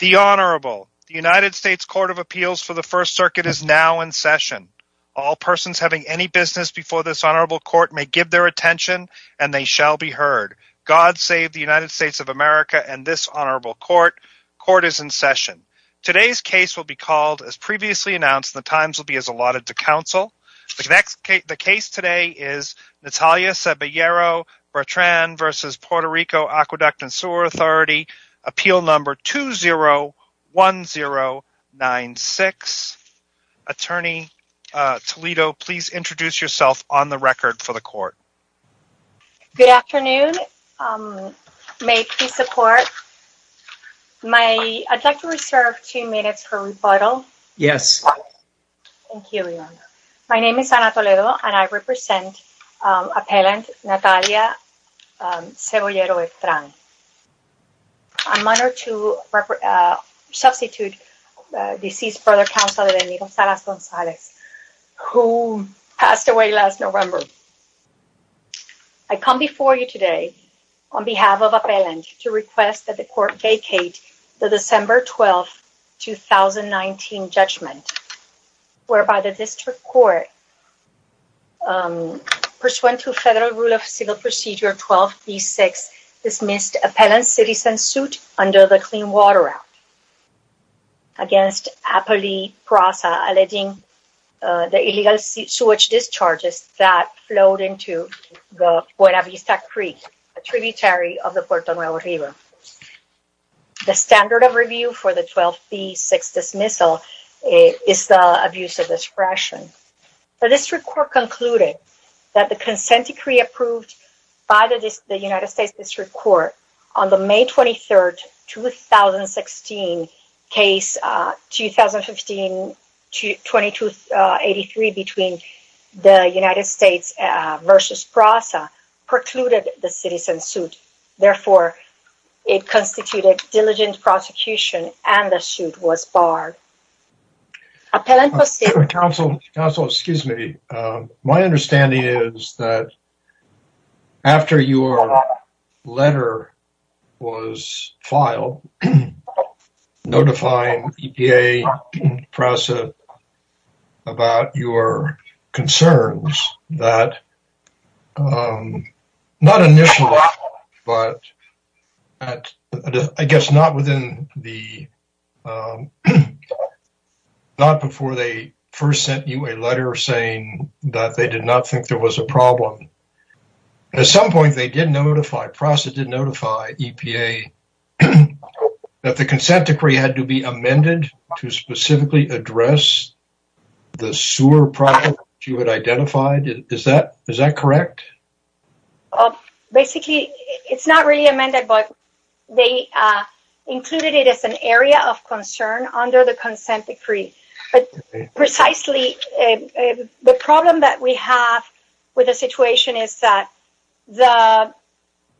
The Honorable, the United States Court of Appeals for the First Circuit is now in session. All persons having any business before this Honorable Court may give their attention and they shall be heard. God save the United States of America and this Honorable Court. Court is in session. Today's case will be called, as previously announced, the times will be as allotted to counsel. The case today is Natalia Sebollero-Bertran v. Puerto Rico Aqueduct & Sewer Authority. Appeal number 201096. Attorney Toledo, please introduce yourself on the record for the court. Good afternoon. May peace support. I'd like to reserve two minutes for rebuttal. Yes. Thank you, Leon. My name is Ana Toledo and I represent Appellant Natalia Sebollero-Bertran. I'm honored to substitute deceased brother counsel, Devenido Salas-Gonzalez, who passed away last November. I come before you today on behalf of Appellant to request that the court, pursuant to Federal Rule of Civil Procedure 12B-6, dismiss Appellant's citizen suit under the Clean Water Act against Apolli Prasa alleging the illegal sewage discharges that flowed into the Buena Vista Creek, a tributary of the Puerto Nuevo River. The standard of review for the 12B-6 dismissal is the abuse of discretion. The district court concluded that the consent decree approved by the United States District Court on the May 23, 2016, case 2015-2283 between the United States versus Prasa precluded the constituted diligent prosecution and the suit was barred. Counsel, excuse me. My understanding is that after your letter was filed, notifying EPA and Prasa about your concerns that not initially, but I guess not before they first sent you a letter saying that they did not think there was a problem. At some point, Prasa did notify EPA that the consent decree had to be amended to specifically address the sewer problem that you had identified. Is that correct? Basically, it's not really amended, but they included it as an area of concern under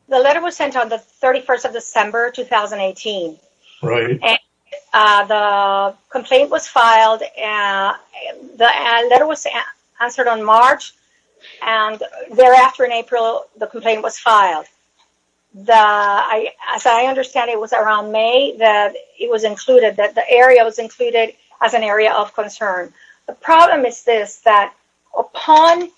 the letter was sent on the 31st of December, 2018. The complaint was filed. The letter was answered on March and thereafter in April, the complaint was filed. As I understand, it was around May that it was included, that the area was included as an area of concern. The problem is this, that upon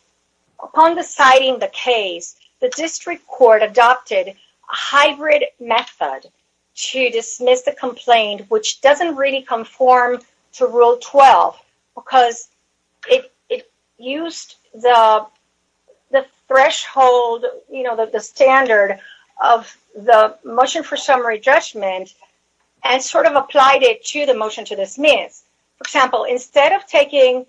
deciding the case, the District Court adopted a hybrid method to dismiss the complaint, which doesn't really conform to Rule 12 because it used the threshold, the standard of the motion for summary judgment and sort of applied it to the motion to dismiss. For example, instead of taking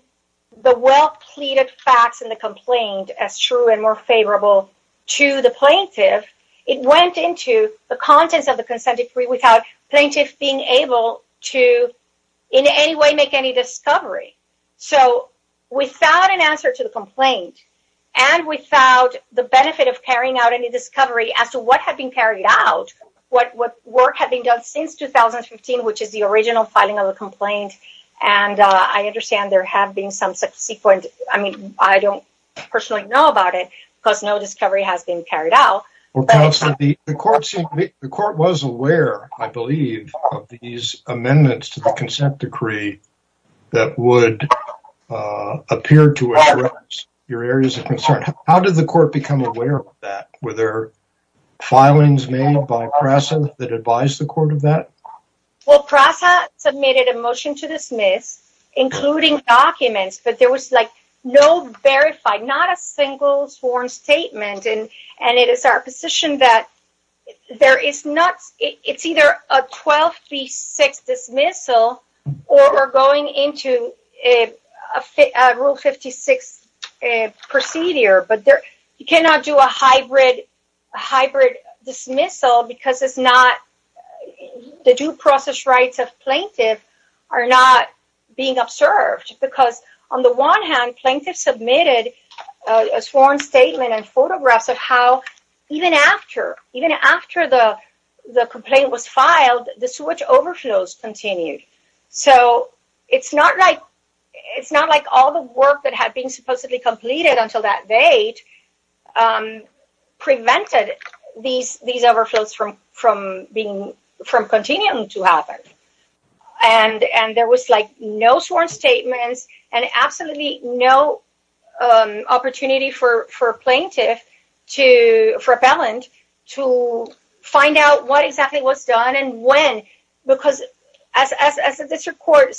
the well-pleaded facts in the complaint as true and more favorable to the plaintiff, it went into the contents of the consent decree without plaintiffs being able to in any way make any discovery. So without an answer to the complaint and without the benefit of carrying out any discovery as to what had been carried out, what work had been done since 2015, which is the subsequent, I mean, I don't personally know about it because no discovery has been carried out. The court was aware, I believe, of these amendments to the consent decree that would appear to address your areas of concern. How did the court become aware of that? Were there filings made by PRASA that advised the court of that? Well, PRASA submitted a motion to dismiss, including documents, but there was like no verified, not a single sworn statement. And it is our position that there is not, it's either a 12 v. 6 dismissal or going into a Rule 56 procedure. But you cannot do a hybrid dismissal because it's not, the due process rights of being observed. Because on the one hand, plaintiffs submitted a sworn statement and photographs of how even after the complaint was filed, the sewage overflows continued. So it's not like all the work that had been supposedly completed until that date prevented these overflows from continuing to happen. And there was like no sworn statements and absolutely no opportunity for plaintiff, for appellant to find out what exactly was done and when. Because as the district court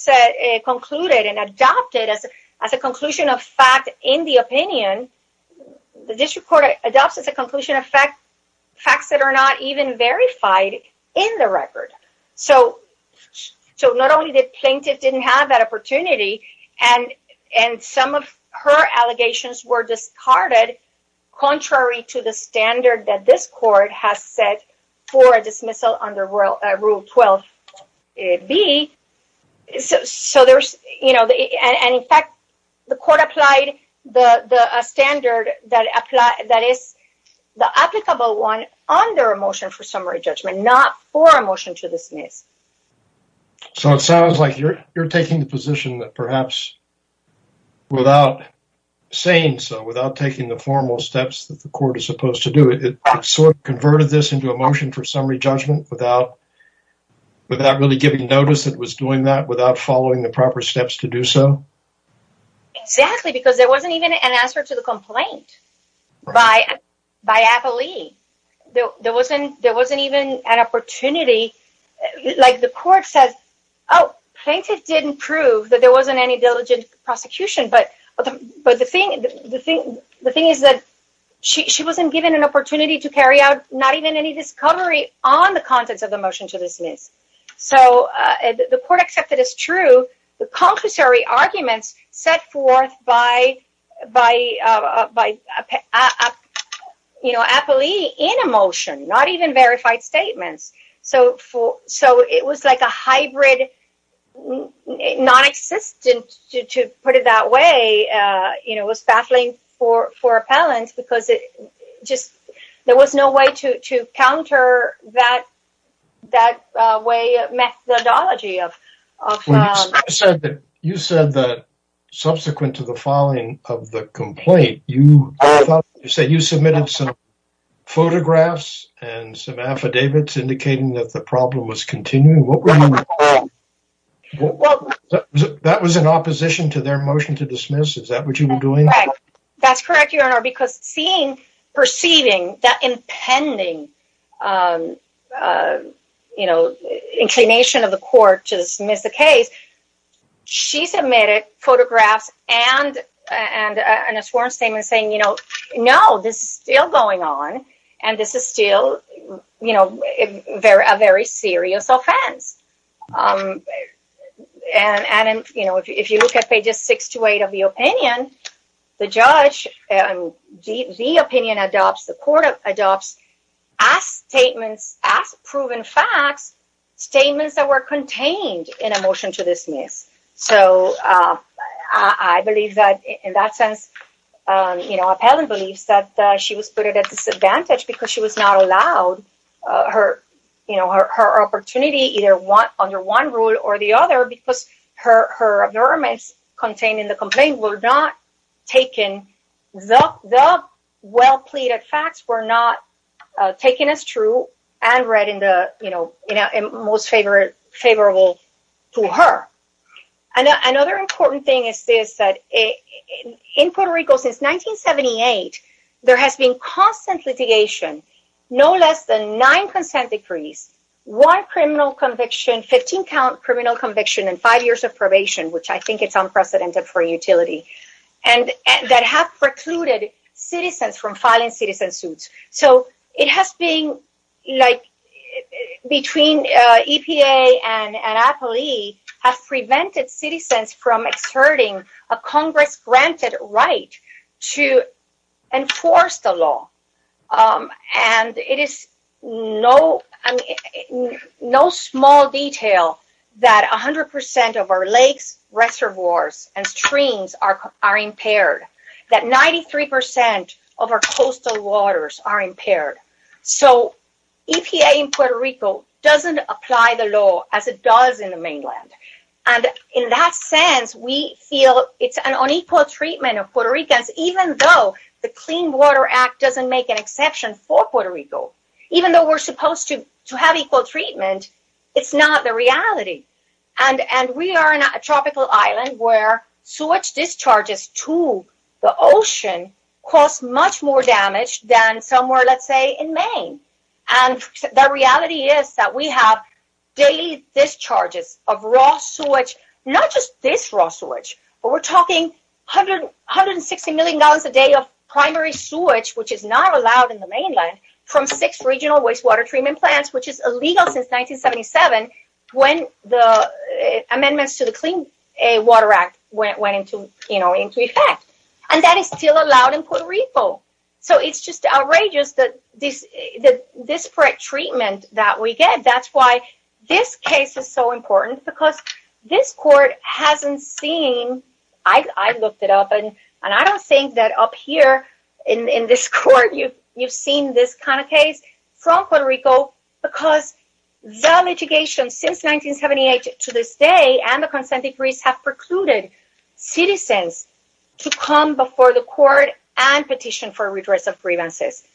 concluded and adopted as a conclusion of fact in the opinion, the district court adopts as a conclusion of fact, facts that are not even verified in the record. So, not only did plaintiff didn't have that opportunity and some of her allegations were discarded contrary to the standard that this court has set for a dismissal under Rule 12b. So there's, you know, and in fact, the court applied the standard that is the applicable one on their motion for summary judgment, not for a motion to dismiss. So it sounds like you're taking the position that perhaps without saying so, without taking the formal steps that the court is supposed to do, it sort of converted this into a motion for summary judgment without really giving notice that it was doing that, without following the proper steps to do so. Exactly, because there wasn't even an answer to the complaint by appellee. There wasn't even an opportunity. Like the court says, oh, plaintiff didn't prove that there wasn't any diligent prosecution. But the thing is that she wasn't given an opportunity to carry out not even any discovery on the contents of the motion to dismiss. So the court accepted as true the compulsory arguments set forth by, you know, appellee in a motion, not even verified statements. So it was like a hybrid non-existent, to put it that way, you know, was there was no way to counter that methodology. You said that subsequent to the filing of the complaint, you said you submitted some photographs and some affidavits indicating that the problem was continuing. That was in opposition to their motion to dismiss. Is that what you were doing? That's correct, Your Honor, because seeing, perceiving that impending, you know, inclination of the court to dismiss the case, she submitted photographs and a sworn statement saying, you know, no, this is still going on. And this is still, you know, a very serious offense. And, you know, if you look at pages six to eight of the opinion, the judge, the opinion adopts, the court adopts as statements, as proven facts, statements that were contained in a motion to dismiss. So I believe that in that sense, you know, appellant believes that she was put at a disadvantage because she was not allowed her, you know, her opportunity either under one rule or the other, because her abnormals contained in the complaint were not taken, the well pleaded facts were not taken as true and read in the, you know, most favorable to her. And another important thing is this, that in Puerto Rico, since 1978, there has been constant litigation, no less than nine consent decrees, one criminal conviction, 15 count criminal conviction and five years of probation, which I think it's unprecedented for utility, and that have precluded citizens from filing citizen suits. So it has been like, between EPA and an appellee have prevented citizens from asserting a Congress granted right to enforce the law. And it is no small detail that 100% of our lakes, reservoirs and streams are impaired, that 93% of our coastal waters are impaired. So EPA in Puerto Rico doesn't apply the law as it does in the mainland. And in that sense, we feel it's an unequal treatment of Puerto Ricans, even though the Clean Water Act doesn't make an exception for Puerto Rico, even though we're supposed to have equal treatment, it's not the reality. And we are in a tropical island where sewage discharges to the ocean cause much more than somewhere, let's say in Maine. And the reality is that we have daily discharges of raw sewage, not just this raw sewage, but we're talking 160 million gallons a day of primary sewage, which is not allowed in the mainland from six regional wastewater treatment plants, which is illegal since 1977, when the amendments to the Clean Water Act went into effect. And that is still allowed in Puerto Rico. So it's just outrageous that this correct treatment that we get, that's why this case is so important because this court hasn't seen, I looked it up, and I don't think that up here in this court, you've seen this kind of case from Puerto Rico, because the litigation since 1978 to this day, and the consent decrees have precluded citizens to come before the court and petition for redress of grievances.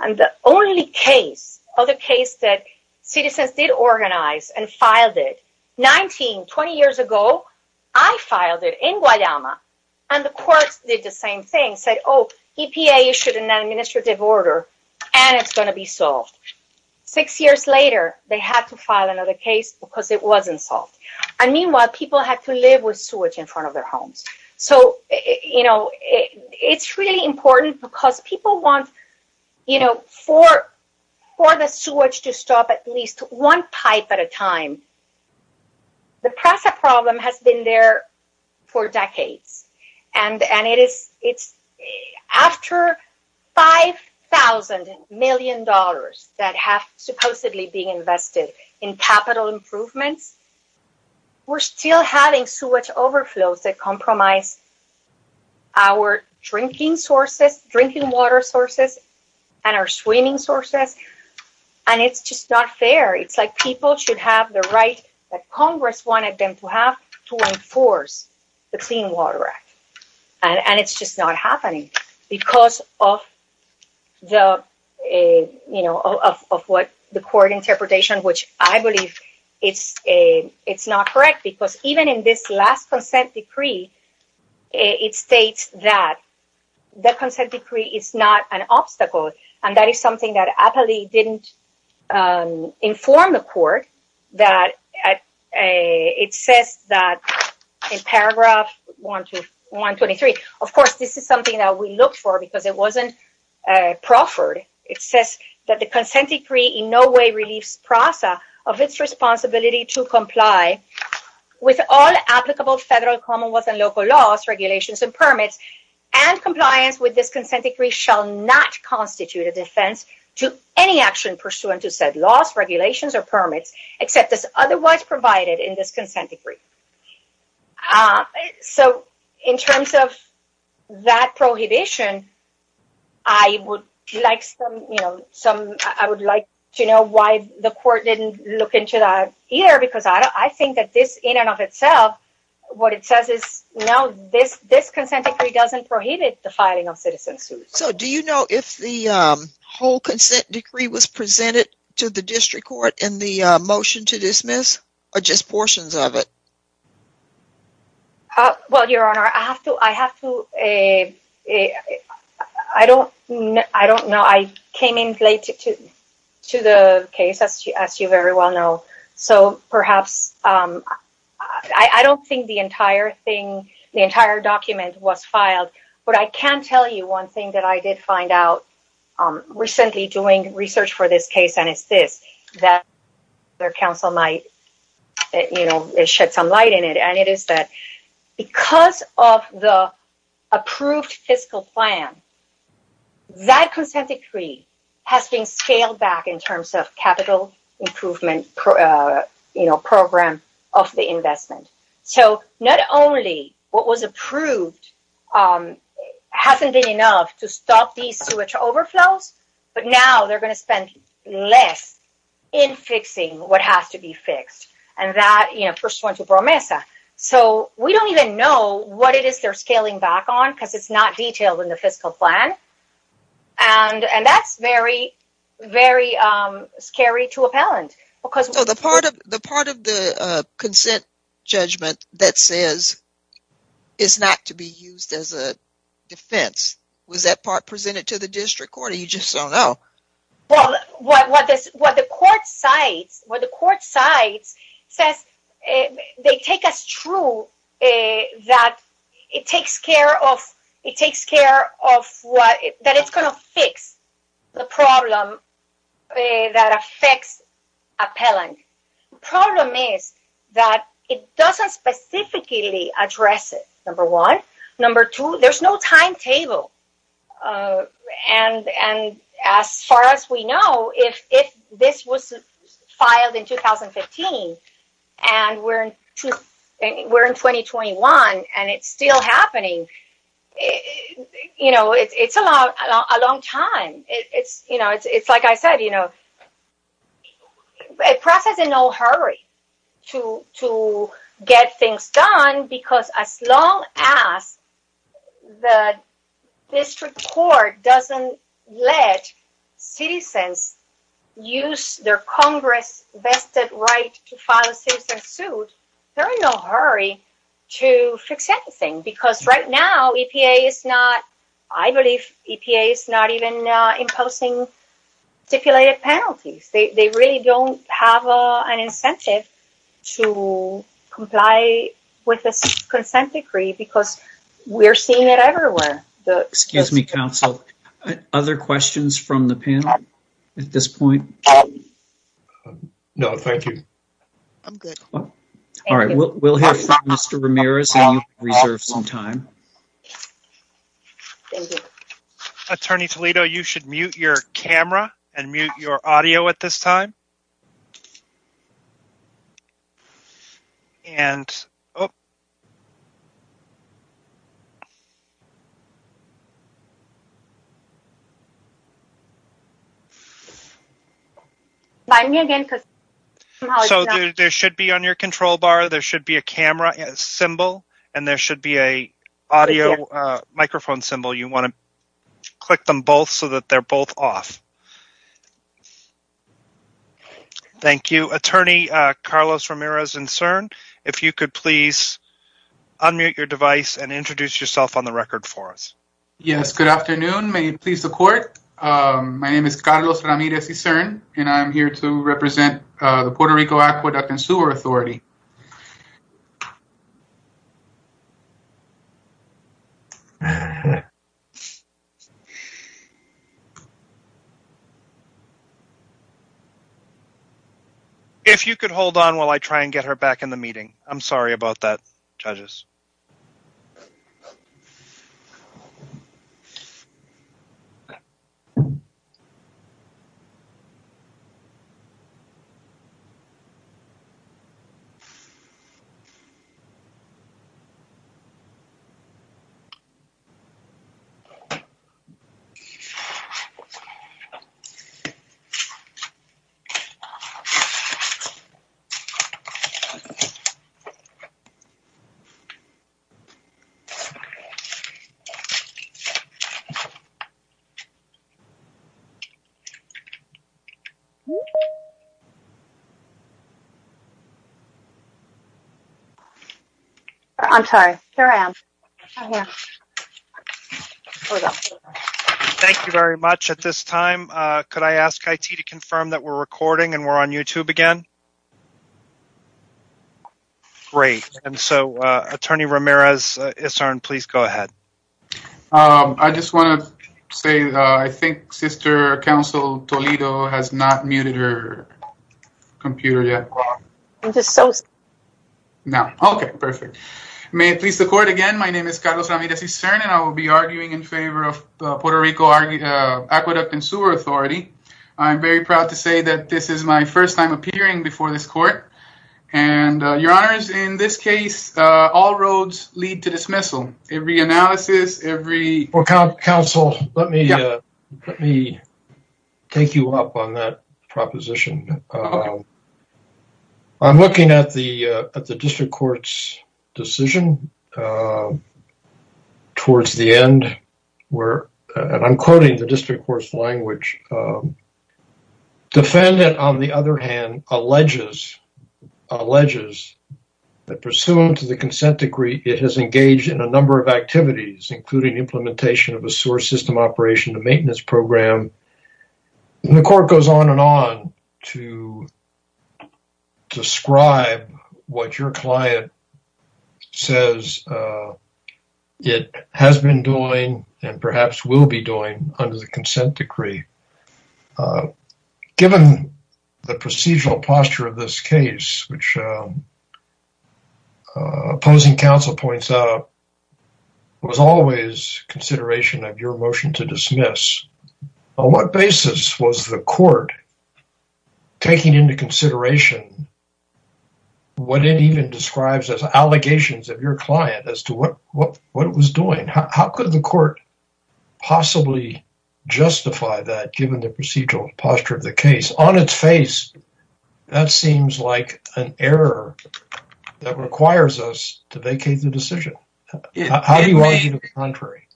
And the only case of the case that citizens did organize and filed it 19, 20 years ago, I filed it in Guayama. And the courts did the same thing, said, oh, EPA issued an administrative order, and it's going to be solved. Six years later, they had to file another case because it wasn't solved. And meanwhile, people had to live with sewage in front of their homes. So it's really important because people want for the sewage to stop at least one pipe at a time. The PRASA problem has been there for decades. And it's after $5,000 million that have supposedly been invested in capital improvements. We're still having sewage overflows that compromise our drinking sources, drinking water sources, and our swimming sources. And it's just not fair. It's like people should have the right that Congress wanted them to have to enforce the Clean Water Act. And it's just not it's not correct. Because even in this last consent decree, it states that the consent decree is not an obstacle. And that is something that APALE didn't inform the court that it says that in paragraph 123, of course, this is something that we look for because it wasn't proffered. It says that the consent decree in no way relieves PRASA of its responsibility to comply with all applicable federal, commonwealth, and local laws, regulations, and permits. And compliance with this consent decree shall not constitute a defense to any action pursuant to said laws, regulations, or permits, except as otherwise provided in this consent decree. Ah, so in terms of that prohibition, I would like some, you know, some, I would like to know why the court didn't look into that either. Because I think that this in and of itself, what it says is, no, this this consent decree doesn't prohibit the filing of citizen suits. So do you know if the whole consent decree was presented to the district court in the case? Well, Your Honor, I have to, I have to, I don't know. I came in late to the case, as you very well know. So perhaps, I don't think the entire thing, the entire document was filed. But I can tell you one thing that I did find out recently doing research for this case, that their counsel might, you know, shed some light in it. And it is that because of the approved fiscal plan, that consent decree has been scaled back in terms of capital improvement, you know, program of the investment. So not only what was approved hasn't been enough to stop these sewage overflows, but now they're going to spend less in fixing what has to be fixed. And that, you know, first one to Bromesa. So we don't even know what it is they're scaling back on because it's not detailed in the fiscal plan. And that's very, very scary to appellant. So the part of the consent judgment that says it's not to be used as a defense, was that part presented to the district court? Or you just don't know? Well, what the court cites, what the court cites says, they take us true that it takes care of, that it's going to fix the problem that affects appellant. Problem is that it doesn't specifically address it, number one. Number two, there's no timetable. And as far as we know, if this was a long time, it's, you know, it's like I said, you know, a process in no hurry to get things done. Because as long as the district court doesn't let citizens use their Congress vested right to file a citizen suit, there are no hurry to fix anything. Because right now EPA is not, I believe EPA is not even imposing stipulated penalties. They really don't have an incentive to comply with the consent decree because we're seeing it everywhere. Excuse me, counsel. Other questions from the panel at this point? No, thank you. I'm good. All right, we'll hear from Mr. Ramirez and you can reserve some time. Attorney Toledo, you should mute your camera and mute your audio at this time. And so there should be on your control bar, there should be a camera symbol and there should be a audio microphone symbol. You want to click them both so that they're both off. Thank you. Attorney Carlos Ramirez and CERN, if you could please unmute your device and introduce yourself on the record for us. Yes, good afternoon. May it please the court. My name is Carlos Ramirez and CERN and I'm here to represent the Puerto Rico Aqueduct and Sewer Authority. If you could hold on while I try and get her back in the meeting. I'm sorry about that, judges. So, I'm sorry. Here I am. Yeah, hold on. Thank you very much. At this time, could I ask IT to confirm that we're recording and we're on YouTube again? Great. And so, Attorney Ramirez, CERN, please go ahead. I just want to say I think sister counsel Toledo has not muted her computer yet. I'm just so sorry. No. Okay, perfect. May it please the court. Again, my name is Carlos Ramirez and CERN and I will be arguing in favor of the Puerto Rico Aqueduct and Sewer Authority. I'm very proud to say that this is my first time appearing before this court. And your honors, in this case, all roads lead to dismissal. Every analysis, every- I'm looking at the district court's decision towards the end where, and I'm quoting the district court's language. Defendant, on the other hand, alleges that pursuant to the consent decree, it has engaged in a number of activities, including implementation of a sewer system operation, a maintenance program. The court goes on and on to describe what your client says it has been doing and perhaps will be doing under the consent decree. Given the procedural posture of this case, which opposing counsel points out, was always consideration of your motion to dismiss. On what basis was the court taking into consideration what it even describes as allegations of your client as to what it was doing? How could the court possibly justify that given the procedural posture of the case? On its face, that seems like an error that requires us to vacate the decision. How do you argue the contrary?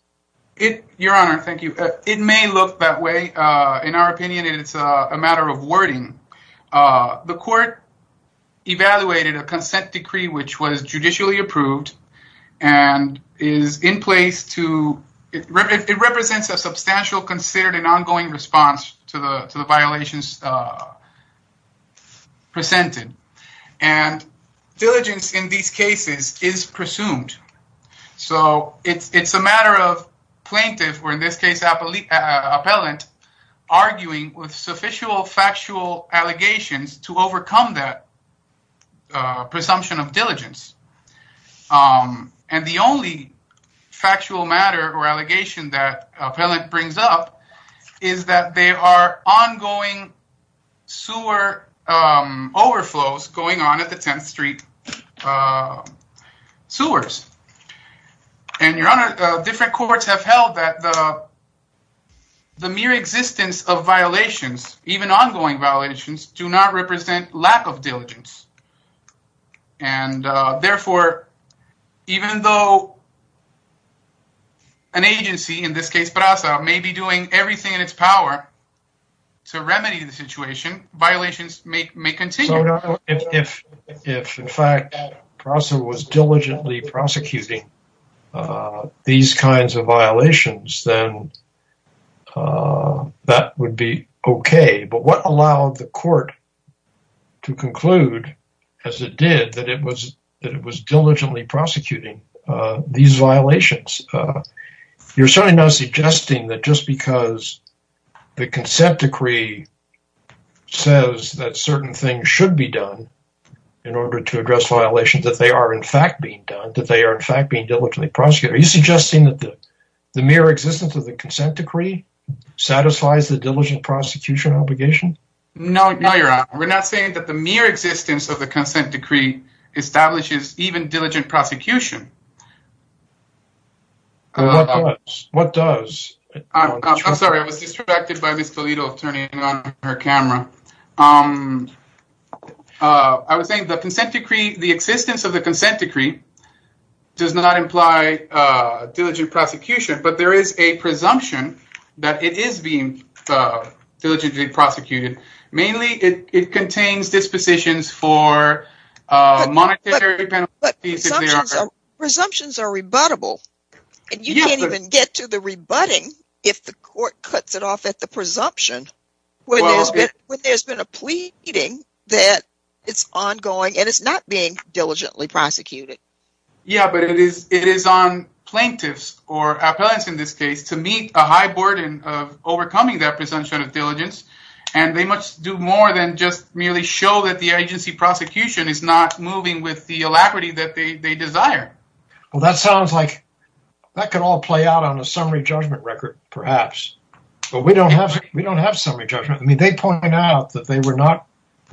Your honor, thank you. It may look that way. In our opinion, it's a matter of wording. The court evaluated a consent decree which was judicially approved and is in place to- presented. Diligence in these cases is presumed. It's a matter of plaintiff or, in this case, appellant arguing with sufficient factual allegations to overcome that presumption of diligence. The only factual matter or allegation that sewer overflows going on at the 10th Street sewers. Your honor, different courts have held that the mere existence of violations, even ongoing violations, do not represent lack of diligence. Therefore, even though an agency, in this case, PRASA, may be doing everything in its power to remedy the situation, violations may continue. If, in fact, PRASA was diligently prosecuting these kinds of violations, then that would be okay. But what allowed the court to conclude, as it did, that it was diligently prosecuting these violations? You're certainly not suggesting that just because the consent decree says that certain things should be done in order to address violations that they are, in fact, being done, that they are, in fact, being diligently prosecuted. Are you suggesting that the mere existence of the consent decree satisfies the diligent prosecution obligation? No, your honor. We're not saying that the mere existence of the consent decree establishes even diligent prosecution. What does? I'm sorry. I was distracted by Ms. Toledo turning on her camera. I was saying the consent decree, the existence of the consent decree, does not imply diligent prosecution, but there is a presumption that it is being diligently prosecuted. Mainly, it contains dispositions for monetary penalties. But presumptions are rebuttable, and you can't even get to the rebutting if the court cuts it off at the presumption when there's been a pleading that it's ongoing and it's not being diligently prosecuted. Yeah, but it is on plaintiffs or diligence, and they must do more than just merely show that the agency prosecution is not moving with the alacrity that they desire. Well, that sounds like that could all play out on a summary judgment record, perhaps, but we don't have summary judgment. I mean, they point out that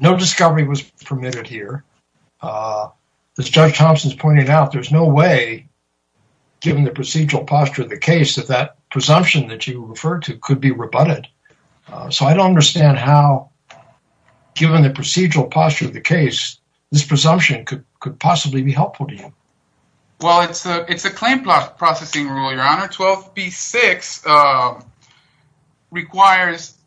no discovery was permitted here. As Judge Thompson's pointed out, there's no way, given the procedural posture of the case, that that presumption that you referred to could be rebutted. So I don't understand how, given the procedural posture of the case, this presumption could possibly be helpful to you. Well, it's a claim processing rule, Your Honor. 12b-6 requires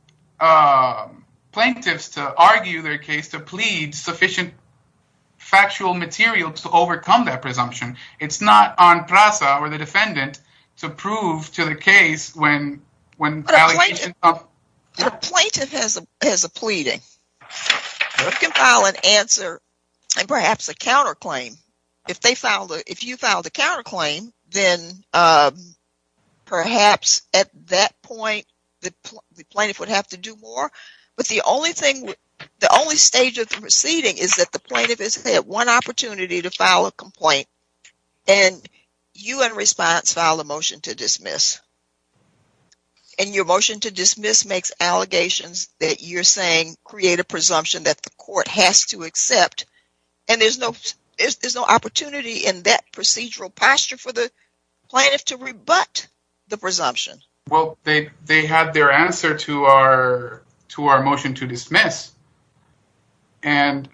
plaintiffs to argue their case, to plead sufficient factual material to overcome that presumption. It's not on plaintiff. But a plaintiff has a pleading. You can file an answer and perhaps a counterclaim. If you filed a counterclaim, then perhaps at that point the plaintiff would have to do more, but the only stage of the proceeding is that the plaintiff has had one opportunity to file a motion to dismiss. Your motion to dismiss makes allegations that you're saying create a presumption that the court has to accept, and there's no opportunity in that procedural posture for the plaintiff to rebut the presumption. Well, they had their answer to our motion to dismiss. Their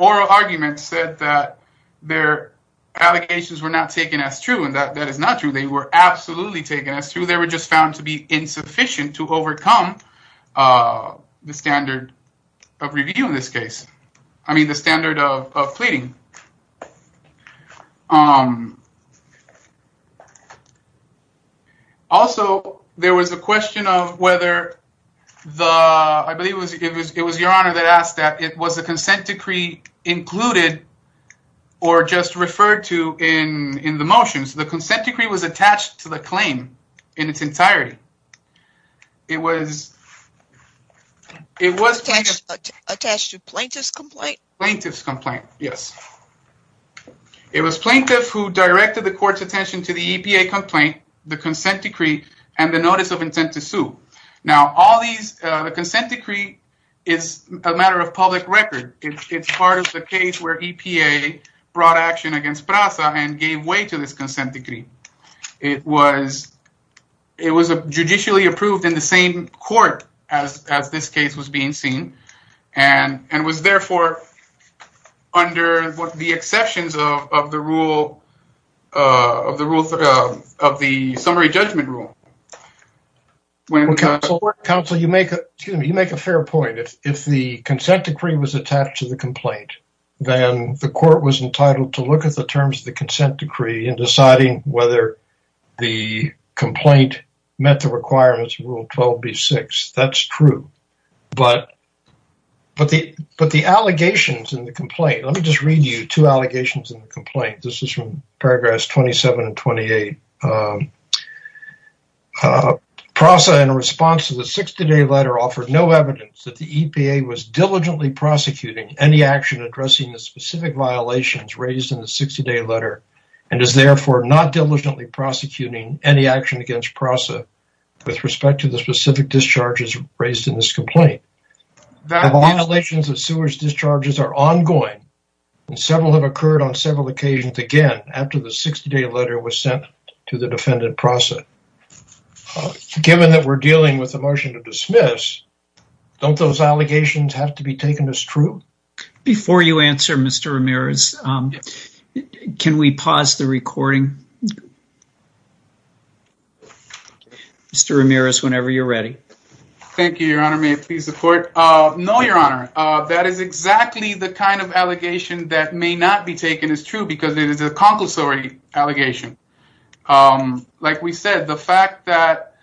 oral argument said that their allegations were not taken as true, and that is not true. They were absolutely taken as true. They were just found to be insufficient to overcome the standard of review in this case. I mean, the standard of pleading. Also, there was a question of whether the... I believe it was Your Honor that asked that it was consent decree included or just referred to in the motions. The consent decree was attached to the claim in its entirety. It was... It was... Attached to plaintiff's complaint? Plaintiff's complaint, yes. It was plaintiff who directed the court's attention to the EPA complaint, the consent decree, and the notice of intent to sue. Now, all these... The consent decree is a matter of public record. It's part of the case where EPA brought action against PRASA and gave way to this consent decree. It was... It was judicially approved in the same court as this case was being seen, and was therefore under the exceptions of the rule... Counsel, you make a... Excuse me. You make a fair point. If the consent decree was attached to the complaint, then the court was entitled to look at the terms of the consent decree and deciding whether the complaint met the requirements of Rule 12b-6. That's true, but the allegations in the complaint... Let me just read you two allegations in the complaint. This is from the EPA. PRASA, in response to the 60-day letter, offered no evidence that the EPA was diligently prosecuting any action addressing the specific violations raised in the 60-day letter, and is therefore not diligently prosecuting any action against PRASA with respect to the specific discharges raised in this complaint. The violations of sewers discharges are ongoing, and several have occurred on several occasions again after the 60-day letter was sent to the defendant PRASA. Given that we're dealing with a motion to dismiss, don't those allegations have to be taken as true? Before you answer, Mr. Ramirez, can we pause the recording? Mr. Ramirez, whenever you're ready. Thank you, Your Honor. May it please the court? No, Your Honor. That is exactly the kind of allegation that may not be taken as true because it is a concussory allegation. Like we said, the fact that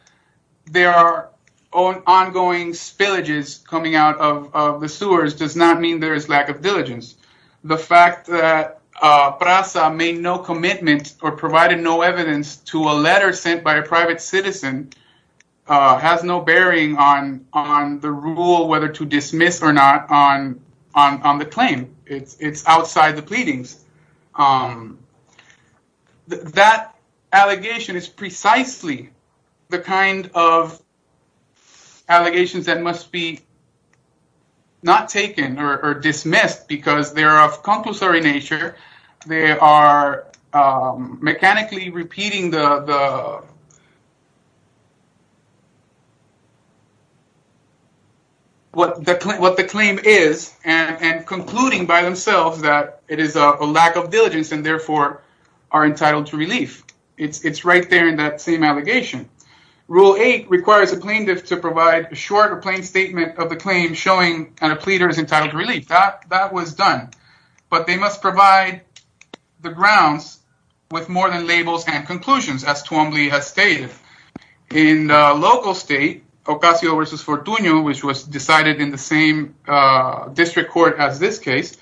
there are ongoing spillages coming out of the sewers does not mean there is lack of diligence. The fact that PRASA made no commitment or provided no evidence to a letter sent by a private citizen has no bearing on the rule whether to dismiss or not on the claim. It's outside the kind of allegations that must be not taken or dismissed because they are of concussory nature. They are mechanically repeating what the claim is and concluding by themselves that it is a lack of diligence and therefore are entitled to relief. It's right there in that same allegation. Rule 8 requires a plaintiff to provide a short or plain statement of the claim showing that a pleader is entitled to relief. That was done, but they must provide the grounds with more than labels and conclusions as Tuomly has stated. In the local state, Ocasio v. Fortunio, which was decided in the same court as this case,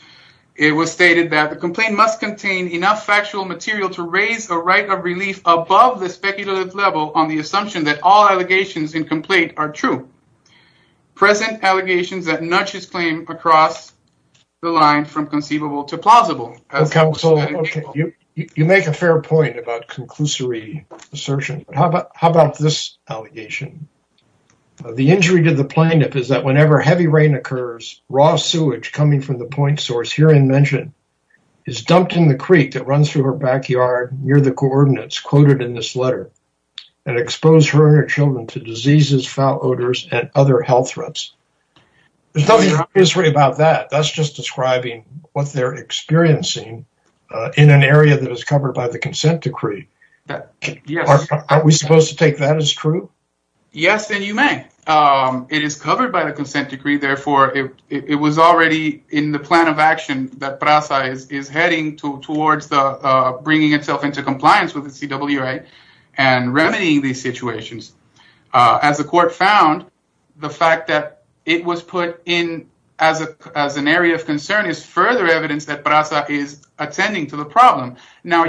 it was stated that the complaint must contain enough factual material to raise a right of relief above the speculative level on the assumption that all allegations in complaint are true. Present allegations that nudge his claim across the line from conceivable to plausible. Okay, so you make a fair point about conclusory assertion. How about this allegation? The injury to the plaintiff is that whenever heavy rain occurs, raw sewage coming from the point source here in mention is dumped in the creek that runs through her backyard near the coordinates quoted in this letter and expose her and her children to diseases, foul odors, and other health threats. There's nothing obvious about that. That's just describing what they're experiencing in an area that is covered by the consent decree. Yes. Are we supposed to take that as true? Yes, and you may. It is covered by the consent decree. Therefore, it was already in the plan of action that PRASA is heading towards bringing itself into compliance with the CWA and remedying these situations. As the court found, the fact that it was put in as an area of concern is further evidence that PRASA is attending to the problem. Now,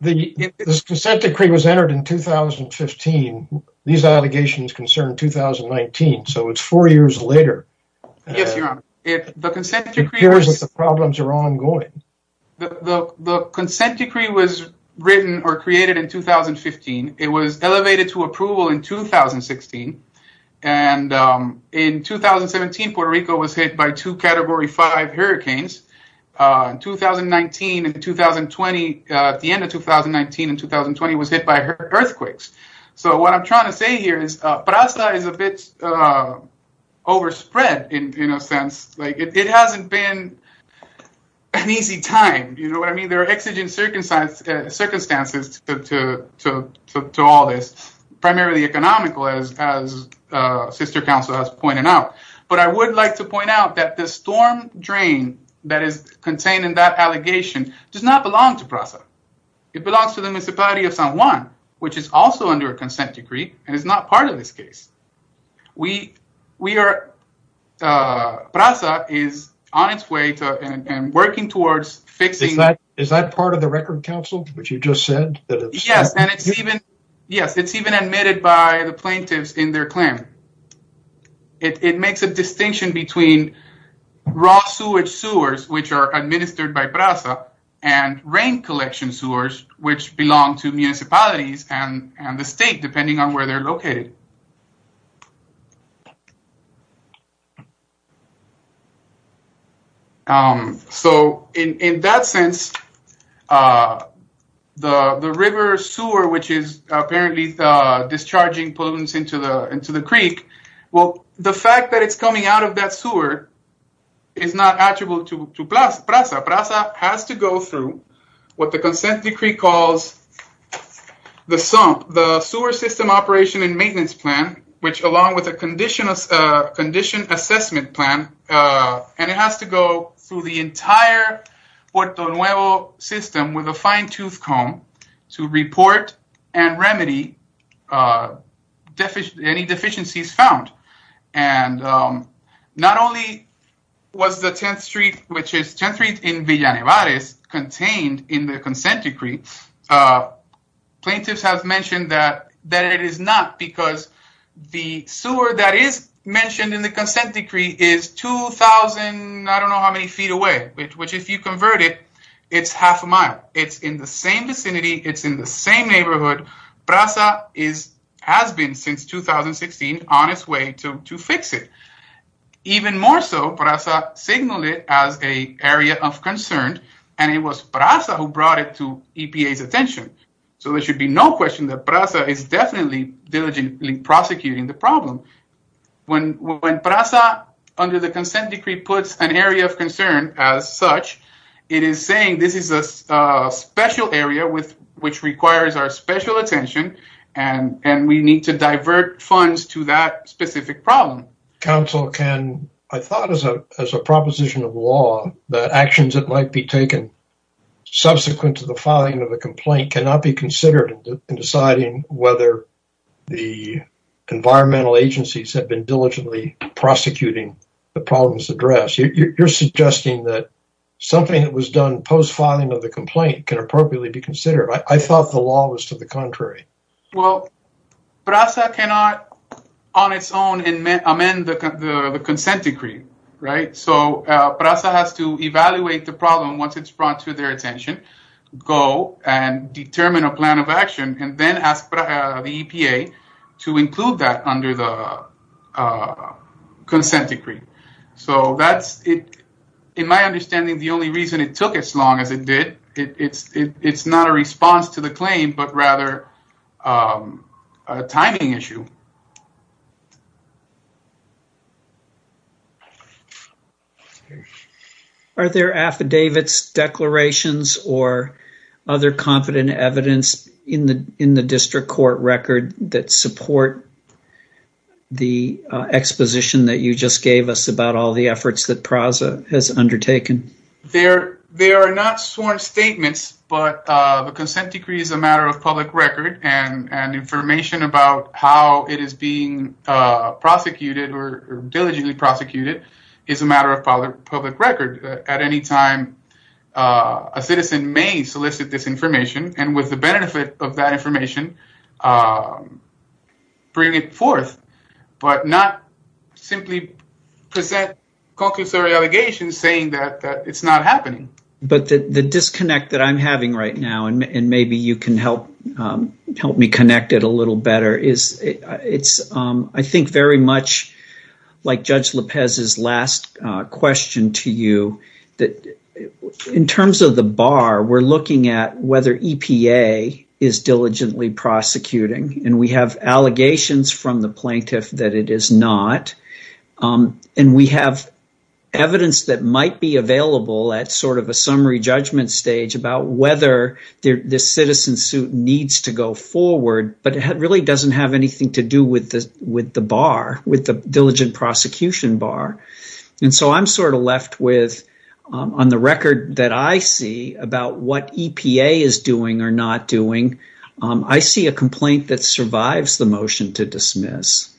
this consent decree was entered in 2015. These allegations concern 2019, so it's four years later. Yes, Your Honor. It appears that the problems are ongoing. The consent decree was written or created in 2015. It was elevated to approval in 2016, and in 2017, Puerto Rico was hit by two Category 5 hurricanes. At the end of 2019 and 2020, it was hit by earthquakes. What I'm trying to say here is PRASA is a bit overspread in a sense. It hasn't been an easy time. There are exigent circumstances to all this, primarily economical, as Sister Counsel has pointed out. But I would like to point out that the storm drain that is contained in that allegation does not belong to PRASA. It belongs to the municipality of San Juan, which is also under a consent decree, and it's not part of this case. PRASA is on its way and working towards fixing— Is that part of the record, Counsel, what you just said? Yes, and it's even admitted by the plaintiffs in their claim. It makes a distinction between raw sewage sewers, which are administered by PRASA, and rain collection sewers, which belong to municipalities and the state, depending on where they're located. So, in that sense, the river sewer, which is apparently discharging pollutants into the creek, well, the fact that it's coming out of that sewer is not attributable to PRASA. PRASA has to go through what the consent decree calls the S.U.M.P., the Sewer System Operation and Maintenance Plan, which along with a condition assessment plan, and it has to go through the entire Puerto Nuevo system with a fine-tooth comb to report and remedy any deficiencies found. And not only was the 10th Street, which is 10th Street in Villa Nevarez, contained in the consent decree, plaintiffs have mentioned that it is not because the sewer that is mentioned in the consent decree is 2,000, I don't know how many feet away, which if you convert it, it's half a mile. It's in the same vicinity. It's in the same neighborhood. PRASA has been, since 2016, on its way to fix it. Even more so, PRASA signaled it as an area of concern, and it was PRASA who brought it to EPA's attention. So, there should be no question that PRASA is definitely diligently prosecuting the problem. When PRASA, under the consent decree, puts an area of concern as such, it is saying, this is a special area which requires our special attention, and we need to divert funds to that specific problem. Council, I thought as a proposition of law, that actions that might be taken subsequent to the filing of a complaint cannot be considered in deciding whether the environmental agencies have been diligently prosecuting the problem's was done post-filing of the complaint can appropriately be considered. I thought the law was to the contrary. Well, PRASA cannot on its own amend the consent decree, right? So, PRASA has to evaluate the problem once it's brought to their attention, go and determine a plan of action, and then ask the EPA to include that under the consent decree. So, in my understanding, the only reason it took as long as it did, it's not a response to the claim, but rather a timing issue. Are there affidavits, declarations, or other competent evidence in the district court record that support the exposition that you just gave us about all the efforts that PRASA has undertaken? There are not sworn statements, but the consent decree is a matter of public record, and information about how it is being prosecuted, or diligently prosecuted, is a matter of public record. At any time, a citizen may solicit this information, and with the benefit of that information, bring it forth, but not simply present conclusory allegations saying that it's not happening. But the disconnect that I'm having right now, and maybe you can help me connect it a little better, is I think very much like Judge Lopez's last question to you, that in terms of the bar, we're looking at whether EPA is diligently prosecuting, and we have allegations from the plaintiff that it is not, and we have evidence that might be available at sort of a summary judgment stage about whether this citizen suit needs to go forward, but it really doesn't have anything to do with the bar, with the diligent prosecution bar. And so I'm sort of left with, on the record that I see about what EPA is doing or not doing, I see a complaint that survives the motion to dismiss.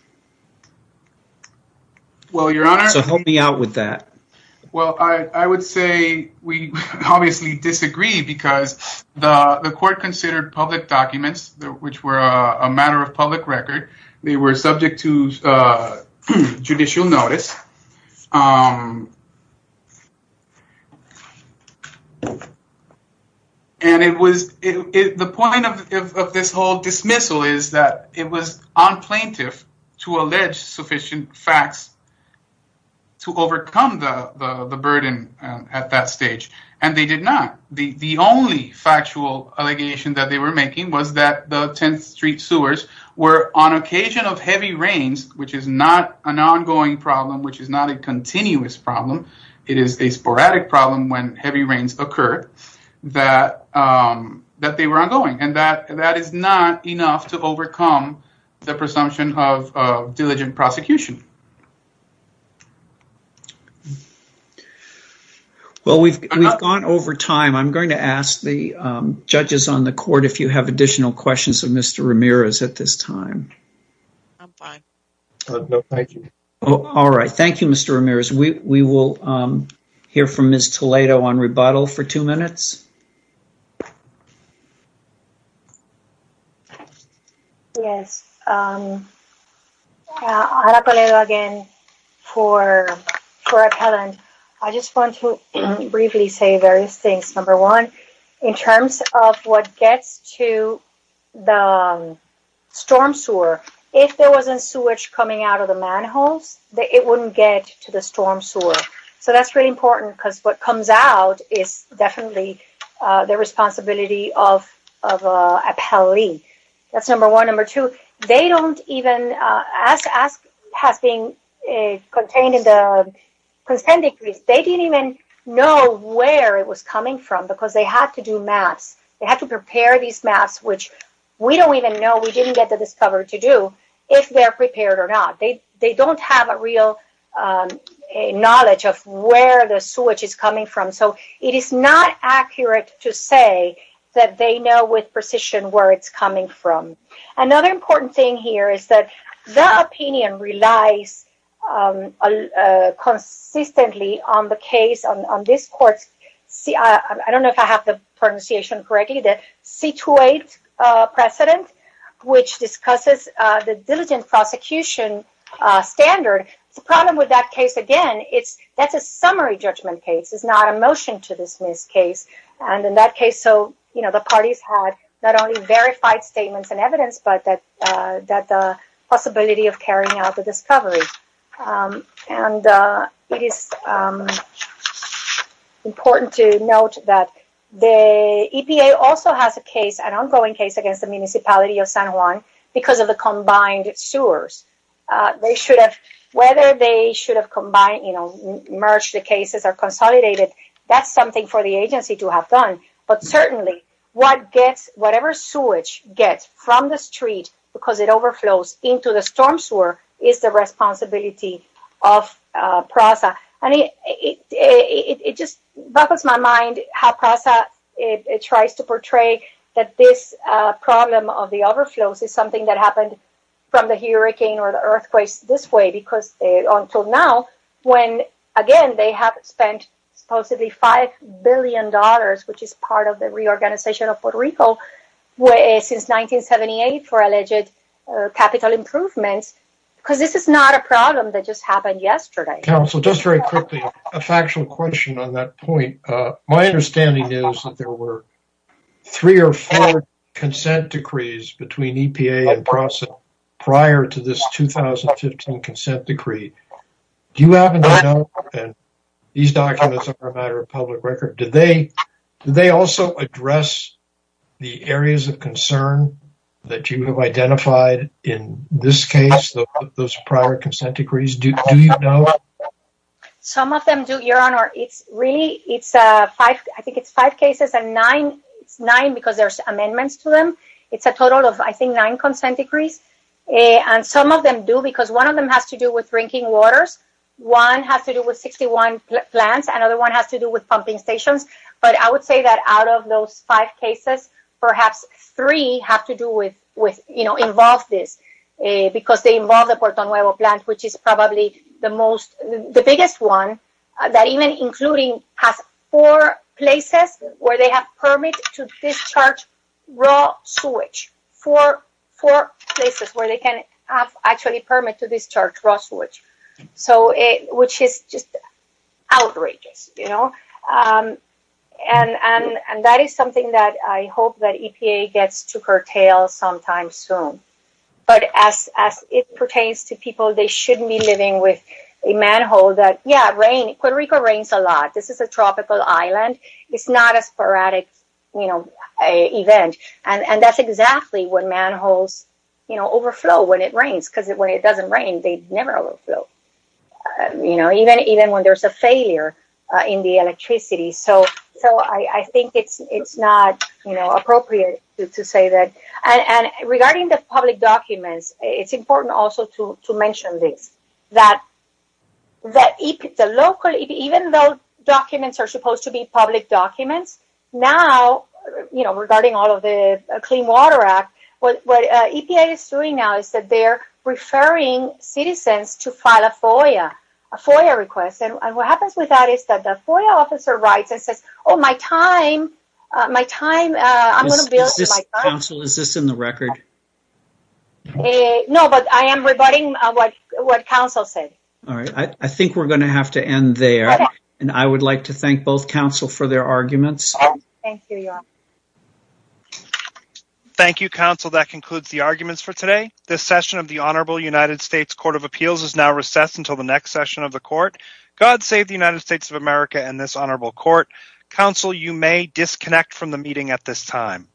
Well, Your Honor, So help me out with that. Well, I would say we obviously disagree, because the court considered public documents, which were a matter of public record, they were subject to judicial notice, and the point of this whole dismissal is that it was on plaintiff to allege sufficient facts to overcome the burden at that stage, and they did not. The only factual allegation that they were making was that the 10th Street sewers were on occasion of heavy rains, which is not an ongoing problem, which is not a continuous problem. It is a sporadic problem when heavy rains occur that they were ongoing, and that is not enough to overcome the presumption of diligent prosecution. Well, we've gone over time. I'm going to ask the judges on the court if you have additional questions of Mr. Ramirez. At this time. I'm fine. Thank you. All right. Thank you, Mr. Ramirez. We will hear from Ms. Toledo on rebuttal for two minutes. Yes. Ana Toledo again for appellant. I just want to briefly say various things. In terms of what gets to the storm sewer, if there wasn't sewage coming out of the manholes, it wouldn't get to the storm sewer. So that's really important because what comes out is definitely the responsibility of appellee. That's number one. Number two, they don't even, as has been contained in the consent decree, they didn't even know where it was coming from because they had to do maps. They had to prepare these maps, which we don't even know. We didn't get to discover to do if they're prepared or not. They don't have a real knowledge of where the sewage is coming from. So it is not accurate to say that they know with precision where it's coming from. Another important thing here is that the opinion relies consistently on the case on this court. I don't know if I have the pronunciation correctly. The C28 precedent, which discusses the diligent prosecution standard. The problem with that case, again, that's a summary judgment case. It's not a motion to dismiss case. And in that case, so the parties had not only verified statements and evidence, but that the possibility of carrying out the discovery. And it is important to note that the EPA also has a case, an ongoing case against the municipality of San Juan because of the combined sewers. Whether they should have merged the cases or consolidated, that's something for the agency to have done. But certainly, whatever sewage gets from the street because it overflows into the storm sewer is the responsibility of PRASA. And it just baffles my mind how PRASA tries to portray that this problem of the overflows is something that happened from the hurricane or the earthquake this way. Until now, when, again, they have spent supposedly $5 billion, which is part of the reorganization of Puerto Rico, since 1978 for alleged capital improvements. Because this is not a problem that just happened yesterday. Counsel, just very quickly, a factual question on that point. My understanding is that there were three or four consent decrees between EPA and PRASA prior to this 2015 consent decree. Do you happen to know, and these documents are a matter of public record, did they also address the areas of concern that you have identified in this case, those prior consent decrees? Do you know? Some of them do, Your Honor. It's really, it's five, I think it's five cases and nine, it's nine because there's amendments to them. It's a total of, I think, nine consent decrees. And some of them do because one of them has to do with drinking waters. One has to do with 61 plants. Another one has to do with pumping stations. But I would say that out of those five cases, perhaps three have to do with, you know, involve this. Because they involve the Puerto Nuevo plant, which is probably the most, the biggest one that even including has four places where they have permit to discharge raw sewage. Four places where they can have actually permit to discharge raw sewage. So it, which is just outrageous, you know. And that is something that I hope that EPA gets to curtail sometime soon. But as it pertains to people, they shouldn't be living with a manhole that, yeah, rain, Puerto Rico rains a lot. This is a tropical island. It's not a sporadic, you know, event. And that's exactly when manholes, you know, overflow when it rains. Because when it doesn't rain, they never overflow. You know, even when there's a failure in the electricity. So I think it's not, you know, appropriate to say that. And regarding the public documents, it's important also to mention this. That the local, even though documents are supposed to be public documents. Now, you know, regarding all of the Clean Water Act, what EPA is doing now is that they're referring citizens to file a FOIA request. And what happens with that is that the FOIA officer writes and says, oh, my time, my time, I'm going to build. Is this in the record? No, but I am rebutting what Council said. All right. I think we're going to have to end there. And I would like to thank both Council for their arguments. Thank you, Council. That concludes the arguments for today. This session of the Honorable United States Court of Appeals is now recessed until the next session of the Court. God save the United States of America and this Honorable Court. Council, you may disconnect from the meeting at this time.